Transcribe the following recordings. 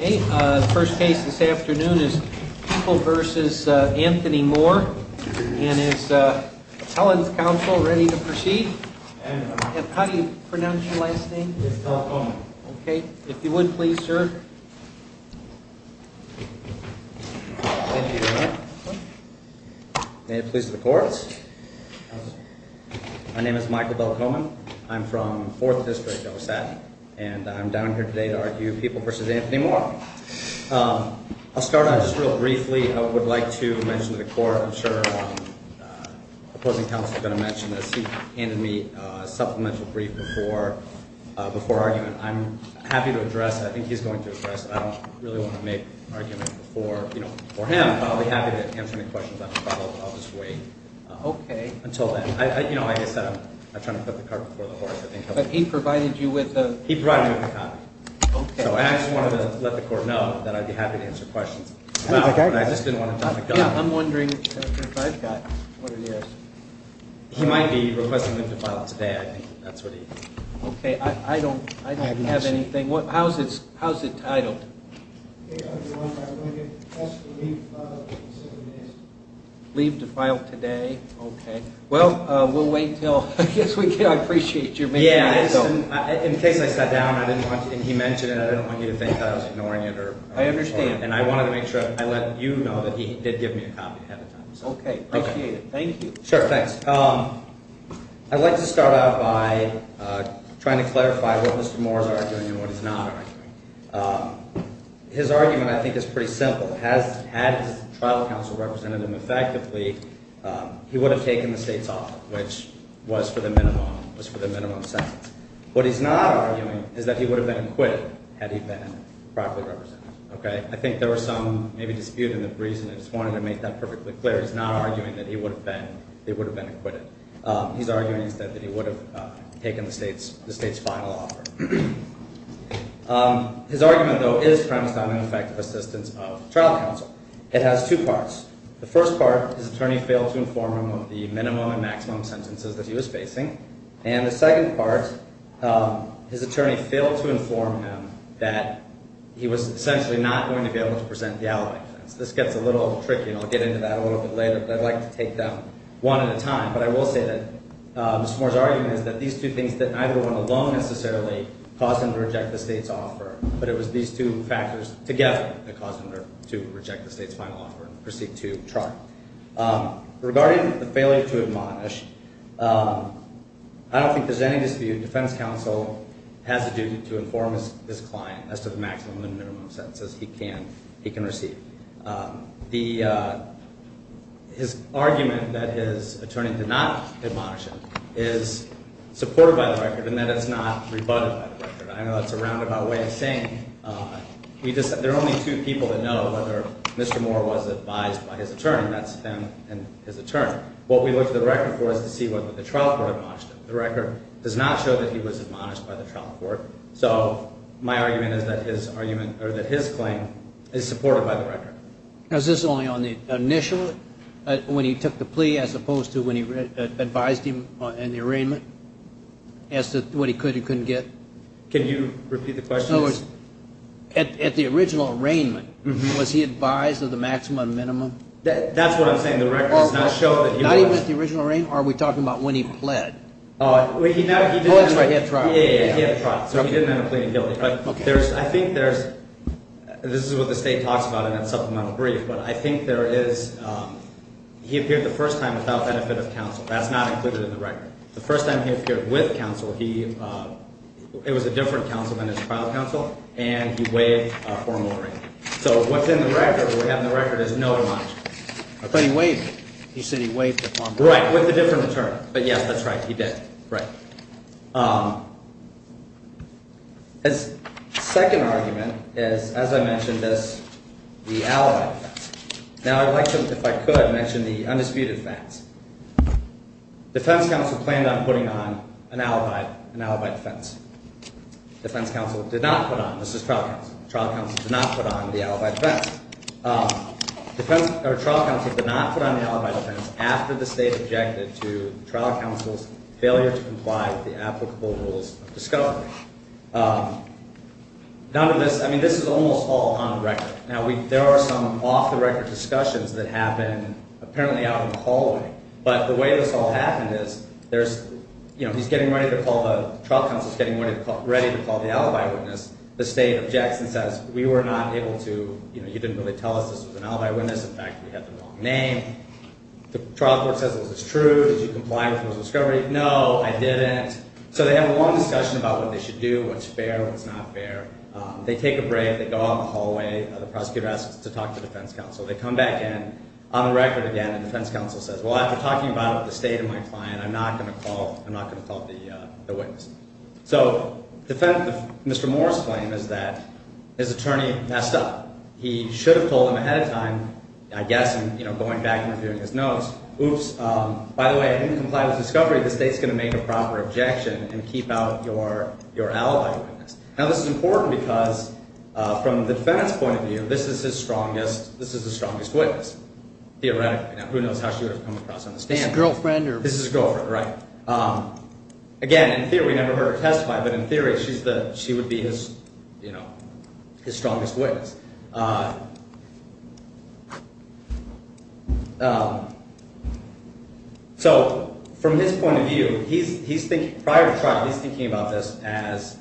Okay, the first case this afternoon is People v. Anthony Moore. And is the Appellant's counsel ready to proceed? And how do you pronounce your last name? Michael Bell-Coleman. Okay, if you would please, sir. May it please the courts. My name is Michael Bell-Coleman. I'm from Fourth District, and I'm down here today to argue People v. Anthony Moore. I'll start out just real briefly. I would like to mention to the court, I'm sure the opposing counsel is going to mention this, he handed me a supplemental brief before argument. I'm happy to address it. I think he's going to address it. I don't really want to make an argument before, you know, before him, but I'll be happy to answer any questions. I'll just wait until then. You know, like I said, I'm trying to put the cart before the horse. But he provided you with a... He provided me with a copy. Okay. So I just wanted to let the court know that I'd be happy to answer questions. Okay. I just didn't want to jump the gun. Yeah, I'm wondering if I've got what it is. He might be requesting them to file it today. I think that's what he... Okay, I don't have anything. How's it titled? Leave to file today. Okay. Well, we'll wait until... I guess we can. I appreciate you. Yeah. In case I sat down and he mentioned it, I didn't want you to think I was ignoring it. I understand. And I wanted to make sure I let you know that he did give me a copy ahead of time. Okay. Appreciate it. Thank you. Sure. Thanks. I'd like to start out by trying to clarify what Mr. His argument, I think, is pretty simple. Had the Tribal Council represented him effectively, he would have taken the state's offer, which was for the minimum sentence. What he's not arguing is that he would have been acquitted had he been properly represented. Okay. I think there was some maybe dispute in the reason. I just wanted to make that perfectly clear. He's not arguing that he would have been acquitted. He's arguing that he would have taken the state's final offer. His argument, though, is premised on an effective assistance of the Tribal Council. It has two parts. The first part, his attorney failed to inform him of the minimum and maximum sentences that he was facing. And the second part, his attorney failed to inform him that he was essentially not going to be able to present the alibi. This gets a little tricky, and I'll get into that a little bit later, but I'd like to take that one at a time. But I will say Mr. Moore's argument is that these two things didn't either one alone necessarily cause him to reject the state's offer, but it was these two factors together that caused him to reject the state's final offer and proceed to trial. Regarding the failure to admonish, I don't think there's any dispute. Defense counsel has a duty to inform his client as to the maximum and minimum sentences he can receive. His argument that his attorney did not admonish him is supported by the record and that it's not rebutted by the record. I know that's a roundabout way of saying it. There are only two people that know whether Mr. Moore was advised by his attorney, and that's them and his attorney. What we look to the record for is to see whether the trial court admonished him. The record does not show that he was admonished by the trial court. So my argument is that his claim is supported by the record. Is this only on the initial, when he took the plea as opposed to when he advised him in the arraignment, as to what he could and couldn't get? Can you repeat the question? At the original arraignment, was he advised of the maximum and minimum? That's what I'm saying. The record does not show that he was. Not even at the original arraignment? Are we talking about when he pled? Oh, that's right, he had tried. Yeah, he had tried. So he didn't have a plea to guilty. I think there's, this is what the state talks about in that supplemental brief, but I think there is, he appeared the first time without benefit of counsel. That's not included in the record. The first time he appeared with counsel, it was a different counsel than his trial counsel, and he waived formal arraignment. So what's in the record, what we have in the record is no admonishment. But he waived it. He said he waived it. Right, with a different return. But yes, that's right, he did. Right. His second argument is, as I mentioned this, the alibi defense. Now I'd like to, if I could, mention the undisputed facts. Defense counsel planned on putting on an alibi, an alibi defense. Defense counsel did not put on, this is trial counsel, trial counsel did not put on the alibi defense. Defense, or trial counsel did not put on the alibi defense after the state objected to trial counsel's failure to comply with the applicable rules of discovery. None of this, I mean, this is almost all on the record. Now we, there are some off the record discussions that happen apparently out in the hallway, but the way this all happened is there's, you know, he's getting ready to call the, trial counsel's getting ready to call the alibi witness. The state objects and says, we were not able to, you know, you didn't really tell us this was an alibi witness. In fact, we had the wrong name. The trial court says, was this true? Did you comply with rules of discovery? No, I didn't. So they have a long discussion about what they should do, what's fair, what's not fair. They take a break. They go out in the hallway. The prosecutor asks to talk to the defense counsel. They come back in, on the record again, and defense counsel says, well, after talking about it with the state and my client, I'm not going to call, I'm not going to call the witness. So defense, Mr. Moore's claim is that his attorney messed up. He should have told him ahead of time, I guess, you know, going back and reviewing his notes. Oops. By the way, I didn't comply with discovery. The state's going to make a proper objection and keep out your, your alibi witness. Now this is important because from the defendant's point of view, this is his strongest, this is the strongest witness theoretically. Now who knows how she would have come across on the stand. This is his girlfriend, right? Again, in theory, we never heard her testify, but in theory, she's the, she would be his, you know, his strongest witness. So from his point of view, he's, he's thinking, prior to trial, he's thinking about this as,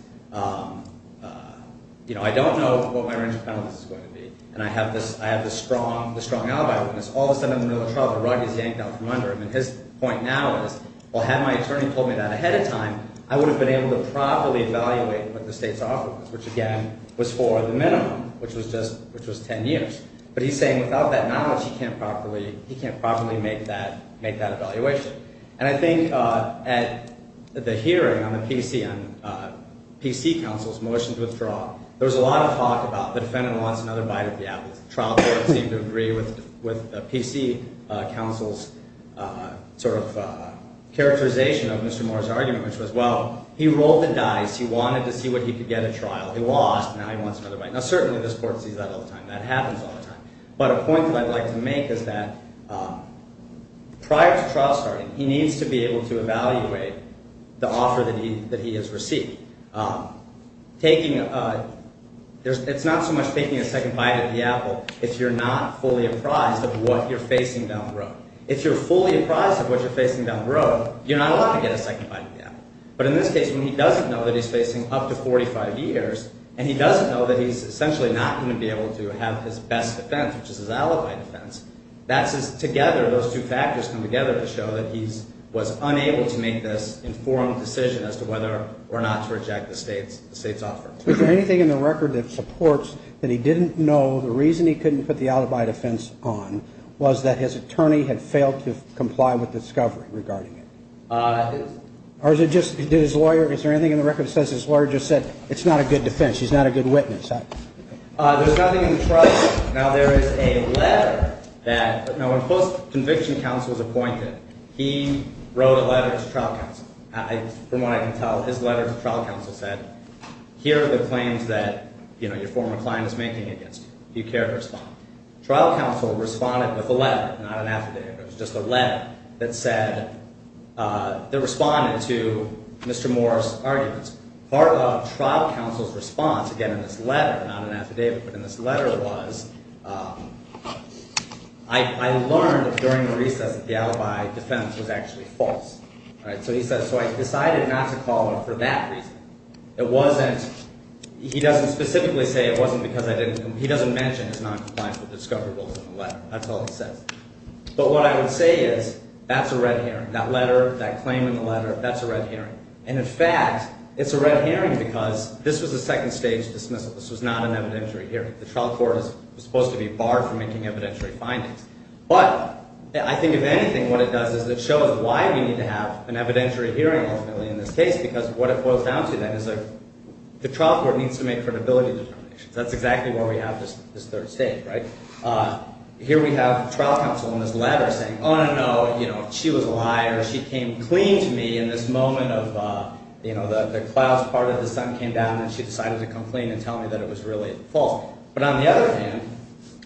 you know, I don't know what my range of penalties is going to be. And I have this, I have this strong, the strong alibi witness. All of a sudden in the middle of the trial, the rug is yanked out from under him. And his point now is, well, had my attorney told me that ahead of time, I would have been able to properly evaluate what the state's offer was, which again was for the minimum, which was just, which was 10 years. But he's saying without that knowledge, he can't properly, he can't properly make that, make that evaluation. And I think at the hearing on the PC and PC counsel's motion to withdraw, there was a lot of talk about the defendant wants another bite of the apple. The trial court seemed to agree with, with PC counsel's sort of characterization of Mr. Moore's argument, which was, well, he rolled the dice. He wanted to see what he could get at trial. He lost. Now he wants another bite. Now certainly this court sees that all the time. That happens all the time. But a point that I'd like to make is that prior to trial starting, he needs to be able to evaluate the offer that he, that he has received. Taking, there's, it's not so much taking a second bite of the apple if you're not fully apprised of what you're facing down the road. If you're fully apprised of what you're facing down the road, you're not allowed to get a second bite of the apple. But in this case, when he doesn't know that he's facing up to 45 years, and he doesn't know that he's essentially not going to be able to have his best defense, which is his alibi defense, that's his, together, those two factors come together to show that he's, was unable to make this informed decision as to whether or not to reject the state's, the state's offer. Is there anything in the record that supports that he didn't know the reason he couldn't put the alibi defense on was that his attorney had failed to comply with discovery regarding it? That is. Or is it just, did his lawyer, is there anything in the record that says his lawyer just said, it's not a good defense, he's not a good witness? There's nothing in the trial. Now there is a letter that, now when post-conviction counsel was appointed, he wrote a letter to trial counsel. I, from what I can tell, his letter to trial counsel said, here are the claims that, you know, your former client is making against you. Do you care to respond? Trial counsel responded with a letter, not an affidavit, it was just a letter that said, that responded to Mr. Moore's arguments. Part of trial counsel's response, again, in this letter, not an affidavit, but in this letter was, I, I learned during the recess that the alibi defense was actually false, right? So he says, so I decided not to call him for that reason. It wasn't, he doesn't specifically say it wasn't because I didn't, he doesn't mention his non-compliance with discovery rules in the letter. That's all he says. But what I would say is, that's a red herring, that letter, that claim in the letter, that's a red herring. And in fact, it's a red herring because this was a second stage dismissal. This was not an evidentiary hearing. The trial court is supposed to be barred from making evidentiary findings. But I think if anything, what it does is it shows why we need to have an evidentiary hearing ultimately in this case, because what it boils down to then is the trial court needs to make this third stage, right? Here we have trial counsel in this letter saying, oh, no, no, you know, she was a liar. She came clean to me in this moment of, you know, the, the clouds part of the sun came down and she decided to come clean and tell me that it was really false. But on the other hand,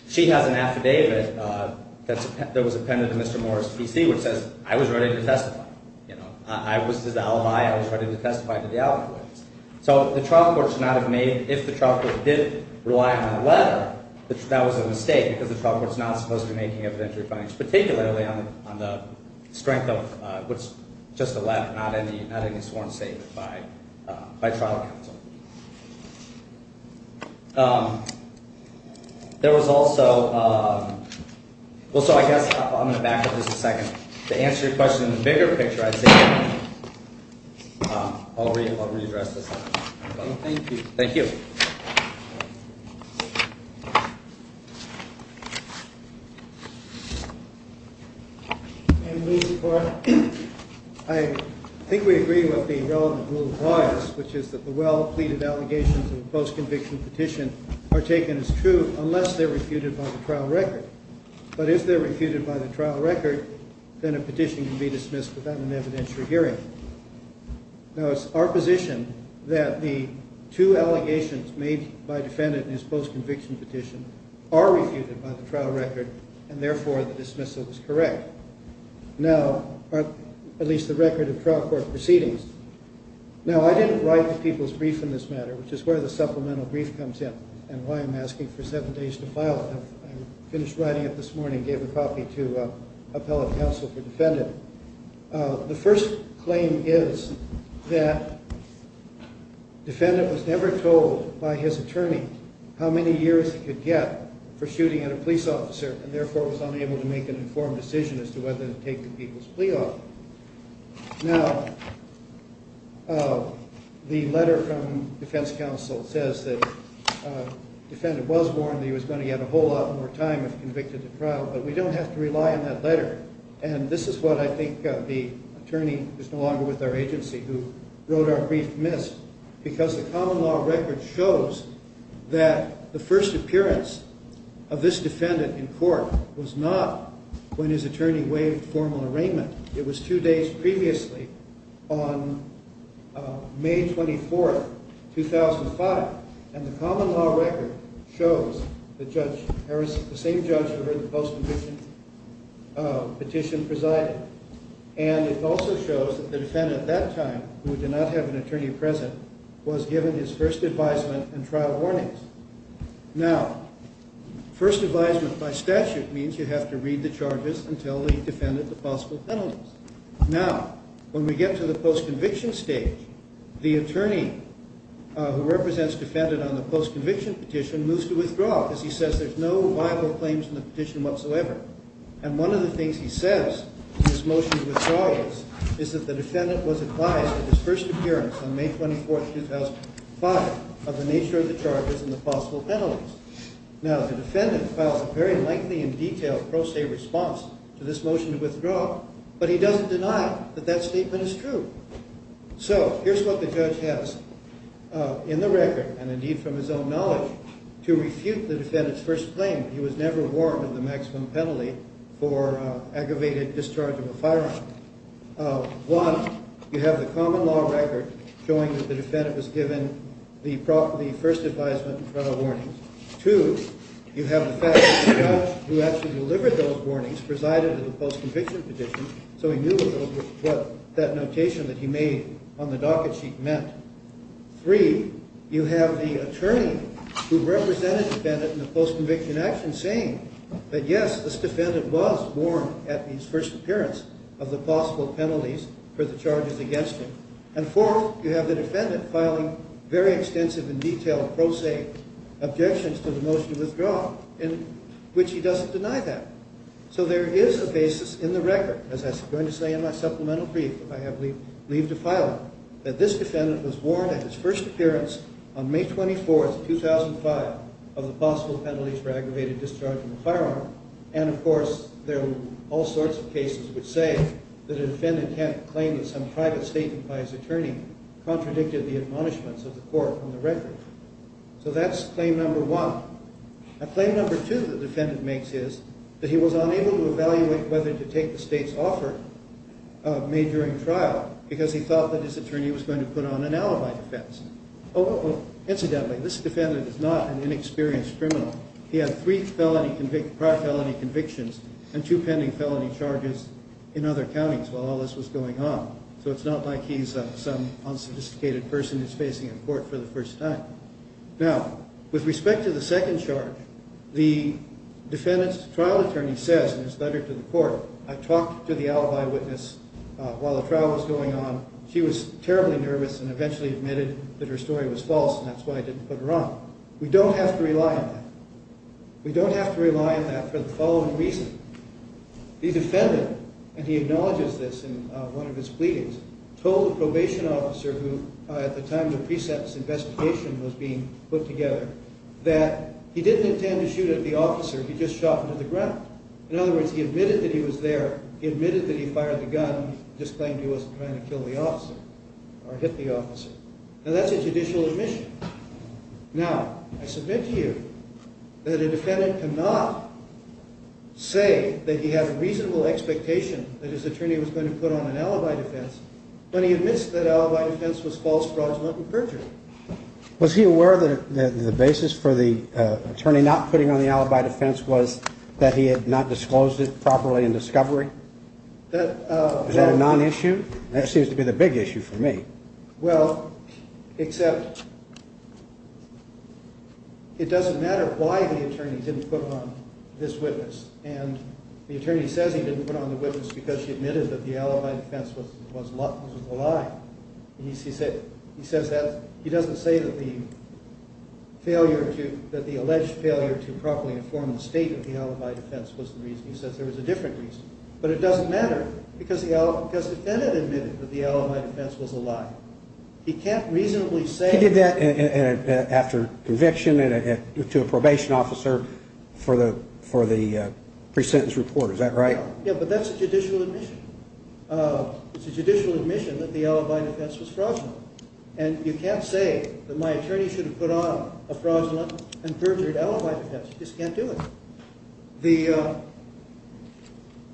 she has an affidavit that's, that was appended to Mr. Morris PC, which says, I was ready to testify. You know, I was his alibi. I was ready to testify to the that was a mistake because the trial court is not supposed to be making evidentiary findings, particularly on the strength of what's just a letter, not any sworn statement by trial counsel. There was also, well, so I guess I'm going to back up just a second to answer your question in the bigger picture. I'd say, I'll read, I'll readdress this. Thank you. I think we agree with the relevant rule of lawyers, which is that the well-pleaded allegations of the post-conviction petition are taken as true unless they're refuted by the trial record. But if they're refuted by the trial record, then a petition can be dismissed without an evidentiary hearing. Now it's our position that the two allegations made by defendant and his post-conviction petition are refuted by the trial record and therefore the dismissal was correct. Now, at least the record of trial court proceedings. Now I didn't write the people's brief in this matter, which is where the supplemental brief comes in and why I'm asking for seven days to file. I finished writing it this morning, gave a copy to appellate counsel for defendant. The first claim is that defendant was never told by his attorney how many years he could get for shooting at a police officer and therefore was unable to make an informed decision as to whether to take the people's plea off. Now, the letter from defense counsel says that defendant was warned that he was going to get a whole lot more time if convicted to trial, but we don't have to rely on that letter. And this is what I think the attorney who's no longer with our agency, who wrote our brief missed, because the common law record shows that the first appearance of this defendant in court was not when his attorney waived formal arraignment. It was two days previously on May 24, 2005. And the common law record shows that Judge Harris, the same judge who heard the post-conviction petition, presided. And it also shows that the defendant at that time, who did not have an attorney present, was given his first advisement and trial warnings. Now, first advisement by statute means you have to read the charges until the defendant to possible penalties. Now, when we get to the post-conviction stage, the attorney who represents defendant on the post-conviction petition moves to withdraw, because he says there's no viable claims in the petition whatsoever. And one of the things he says in his motion to withdraw is that the defendant was advised at his first appearance on May 24, 2005 of the nature of the charges and the possible penalties. Now, the defendant files a very lengthy and detailed pro se response to this motion to withdraw, but he doesn't deny that that statement is true. So here's what the judge has in the record, and indeed from his own to refute the defendant's first claim. He was never warned of the maximum penalty for aggravated discharge of a firearm. One, you have the common law record showing that the defendant was given the first advisement and trial warnings. Two, you have the fact that the judge who actually delivered those warnings presided over the post-conviction petition, so he knew what that was, who represented defendant in the post-conviction action saying that yes, this defendant was warned at his first appearance of the possible penalties for the charges against him. And fourth, you have the defendant filing very extensive and detailed pro se objections to the motion to withdraw, in which he doesn't deny that. So there is a basis in the record, as I'm going to say in my supplemental brief, if I have leave to file it, that this defendant was warned at his first and final of the possible penalties for aggravated discharge of a firearm. And of course, there are all sorts of cases which say that a defendant can't claim that some private statement by his attorney contradicted the admonishments of the court from the record. So that's claim number one. Now claim number two the defendant makes is that he was unable to evaluate whether to take the state's offer made during trial because he thought that his attorney was going to put on an alibi defense. Incidentally, this defendant is not an inexperienced criminal. He had three prior felony convictions and two pending felony charges in other counties while all this was going on. So it's not like he's some unsophisticated person who's facing a court for the first time. Now with respect to the second charge, the defendant's trial attorney says in his letter to the court, I talked to the alibi witness while the trial was going on. She was terribly nervous and eventually admitted that her story was false and that's why I didn't put her on. We don't have to rely on that. We don't have to rely on that for the following reason. The defendant, and he acknowledges this in one of his pleadings, told the probation officer who at the time the precepts investigation was being put together, that he didn't intend to shoot at the officer. He just shot into the ground. In other words, he admitted that he was there. He admitted that he fired the or hit the officer. Now that's a judicial admission. Now I submit to you that a defendant cannot say that he had a reasonable expectation that his attorney was going to put on an alibi defense when he admits that alibi defense was false fraudulent and perjury. Was he aware that the basis for the attorney not putting on the alibi defense was that he had not disclosed it properly in discovery? Is that a non-issue? That seems to be the big issue for me. Well, except it doesn't matter why the attorney didn't put on this witness and the attorney says he didn't put on the witness because she admitted that the alibi defense was a lie. He says that he doesn't say that the alleged failure to properly inform the state of the alibi defense was the reason. But it doesn't matter because the defendant admitted that the alibi defense was a lie. He can't reasonably say... He did that after conviction and to a probation officer for the for the pre-sentence report. Is that right? Yeah, but that's a judicial admission. It's a judicial admission that the alibi defense was fraudulent and you can't say that my attorney should have put on a fraudulent and perjured alibi defense. You just can't do it.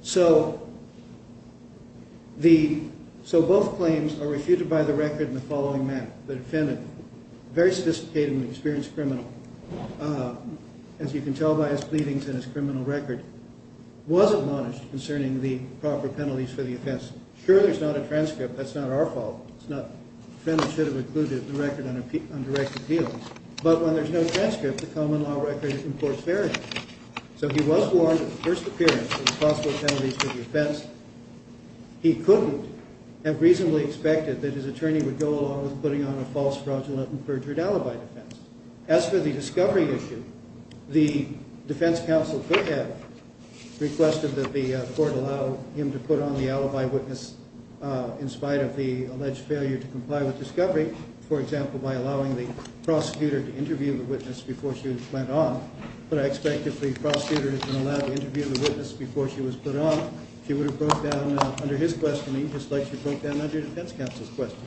So both claims are refuted by the record in the following manner. The defendant, a very sophisticated and experienced criminal, as you can tell by his pleadings and his criminal record, was admonished concerning the proper penalties for the offense. Sure, there's not a transcript. That's not our deal. But when there's no transcript, the common law record imports variance. So he was warned at the first appearance of possible penalties for the offense. He couldn't have reasonably expected that his attorney would go along with putting on a false fraudulent and perjured alibi defense. As for the discovery issue, the defense counsel could have requested that the court allow him to put on the alibi witness in spite of the alleged failure to comply with discovery, for example, by allowing the prosecutor to interview the witness before she went on. But I expect if the prosecutor has been allowed to interview the witness before she was put on, she would have broke down under his questioning just like she broke down under defense counsel's question.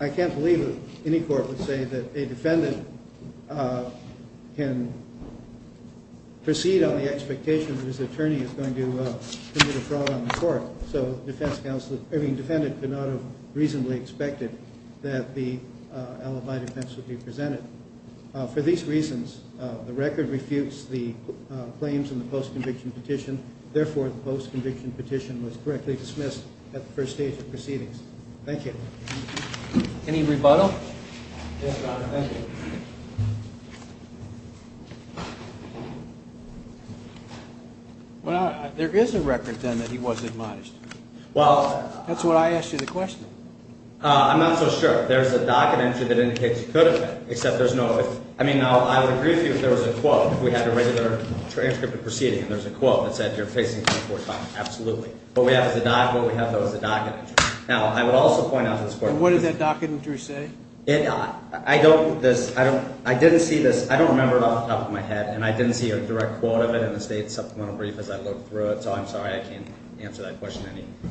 I can't believe that any court would say that a defendant can proceed on the expectation that his attorney is going to commit a fraud on the court. So defense counsel, I mean defendant, could not have reasonably expected that the alibi defense would be presented. For these reasons, the record refutes the claims in the post-conviction petition. Therefore, the post-conviction petition was correctly dismissed at the first stage of proceedings. Thank you. Any rebuttal? Yes, Your Honor. Thank you. Well, there is a record then that he was admonished. That's what I asked you the question. I'm not so sure. There's a docket entry that indicates he could have been, except there's no... I mean, I would agree with you if there was a quote. If we had a regular transcript of proceeding and there's a quote that said you're facing 24 time, absolutely. What we have is a docket entry. Now, I would also point out to this court... What did that docket entry say? I don't... I didn't see this. I don't remember it off the top of my head and I didn't see a direct quote of it in the state supplemental brief as I looked through it. So I'm sorry, I can't answer that question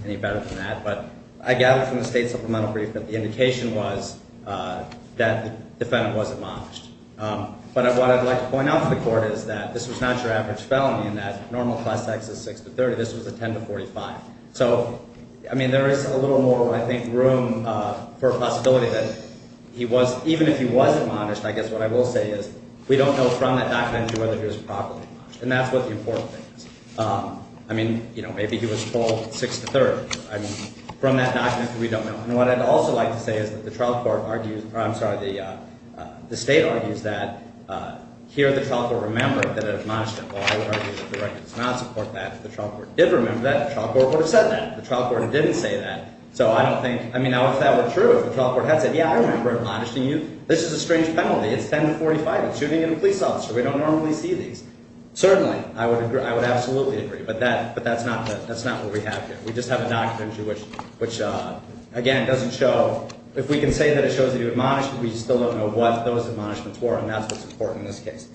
any better than that. But I gathered from the state supplemental brief that the indication was that the defendant was admonished. But what I'd like to point out to the court is that this was not your average felony and that normal class tax is 6 to 30. This was a 10 to 45. So, I mean, there is a little more, I think, room for a possibility that even if he wasn't admonished, I guess what I will say is we don't know from that docket entry whether he was properly admonished. And that's what the important thing is. I mean, maybe he was told 6 to 30. I mean, from that docket entry, we don't know. And what I'd also like to say is that the trial court argues... I'm sorry, the state argues that here the trial court remembered that it admonished him. Well, I would argue that the record does not support that. If the trial court did remember that, the trial court would have said that. The trial court didn't say that. So, I don't think... I mean, if that were true, if the trial court had said, yeah, I remember admonishing you, this is a strange penalty. It's 10 to 45. It's shooting at a police officer. We don't normally see these. Certainly, I would absolutely agree. But that's not what we have here. We just have a docket entry which, again, it doesn't show... If we can say that it shows that he was admonished, we still don't know what those admonishments were and that's what's important in this case.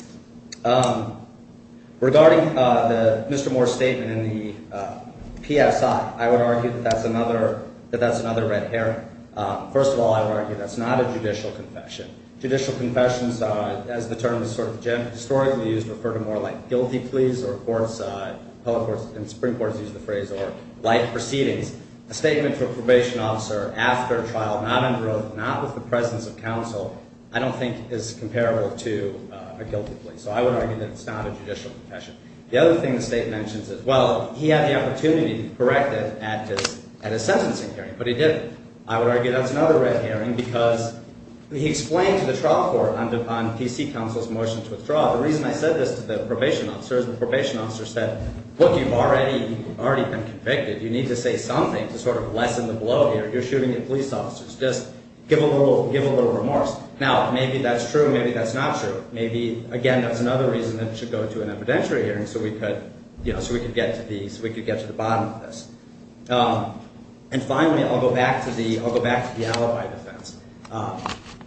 Regarding Mr. Moore's statement in the PSI, I would argue that that's another red herring. First of all, I would argue that's not a judicial confession. Judicial confessions, as the term is sort of historically used, refer to more like guilty pleas or courts, appellate courts and supreme courts use the phrase or life proceedings. A statement to a probation officer after a trial, not in growth, not with the presence of counsel, I don't think is comparable to a guilty plea. So, I would argue that it's not a judicial confession. The other thing the state mentions is, well, he had the opportunity to correct it at a sentencing hearing, but he didn't. I would argue that's another red herring because he explained to the trial court on PC counsel's motion to withdraw, the reason I said this to the probation officers, the probation officer said, look, you've already been convicted. You need to say something to sort of lessen the blow here. You're shooting at police officers. Just give a little remorse. Now, maybe that's true, maybe that's not true. Maybe, again, that's another reason that it should go to an evidentiary hearing so we could get to the bottom of this. And finally, I'll go back to the alibi defense.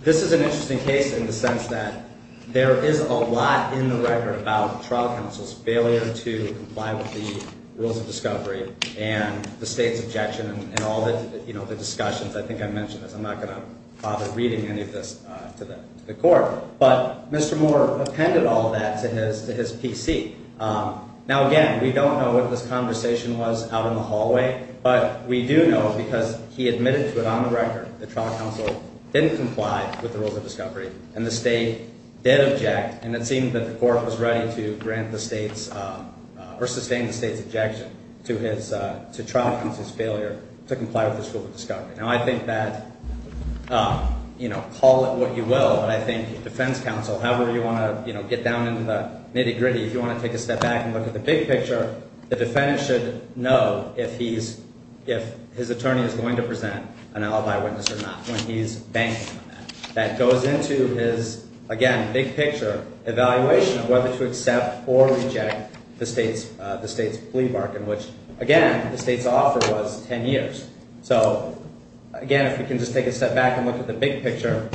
This is an interesting case in the sense that there is a lot in the record about trial counsel's failure to comply with the rules of discovery and the state's objection and all the discussions. I think I mentioned this. I'm not going to bother reading any of this to the court, but Mr. Moore appended all of that to his PC. Now, again, we don't know what this conversation was out in the hallway, but we do know because he admitted to it on the record that trial counsel didn't comply with the rules of discovery and the state did object and it seemed that the court was ready to grant the state's or sustain the state's objection to his, to trial counsel's failure to comply with the school of discovery. Now, I think that, you know, call it what you will, but I think defense counsel, however you want to, get down into the nitty gritty, if you want to take a step back and look at the big picture, the defendant should know if he's, if his attorney is going to present an alibi witness or not when he's banking on that. That goes into his, again, big picture evaluation of whether to accept or reject the state's plea bargain, which again, the state's offer was 10 years. So again, if we can just take a step back and look at the big picture,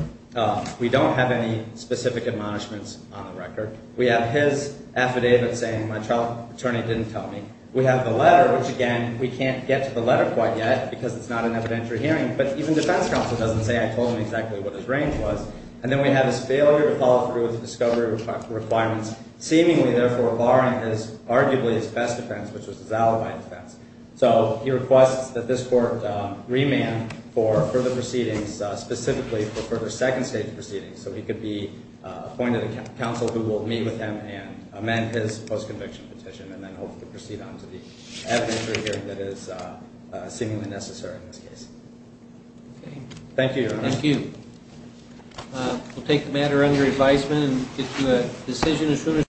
we don't have any specific admonishments on the record. We have his affidavit saying, my trial attorney didn't tell me. We have the letter, which again, we can't get to the letter quite yet because it's not an evidentiary hearing, but even defense counsel doesn't say, I told him exactly what his range was. And then we have his failure to follow through with the discovery requirements, seemingly therefore barring his arguably his best defense, which was his alibi defense. So he requests that this court remand for further proceedings, specifically for further second stage proceedings. So he could be appointed a counsel who will meet with him and amend his post-conviction petition and then hopefully proceed on to the evidentiary hearing that is seemingly necessary in this case. Thank you. Thank you. We'll take the matter under advisement and get to a decision as soon as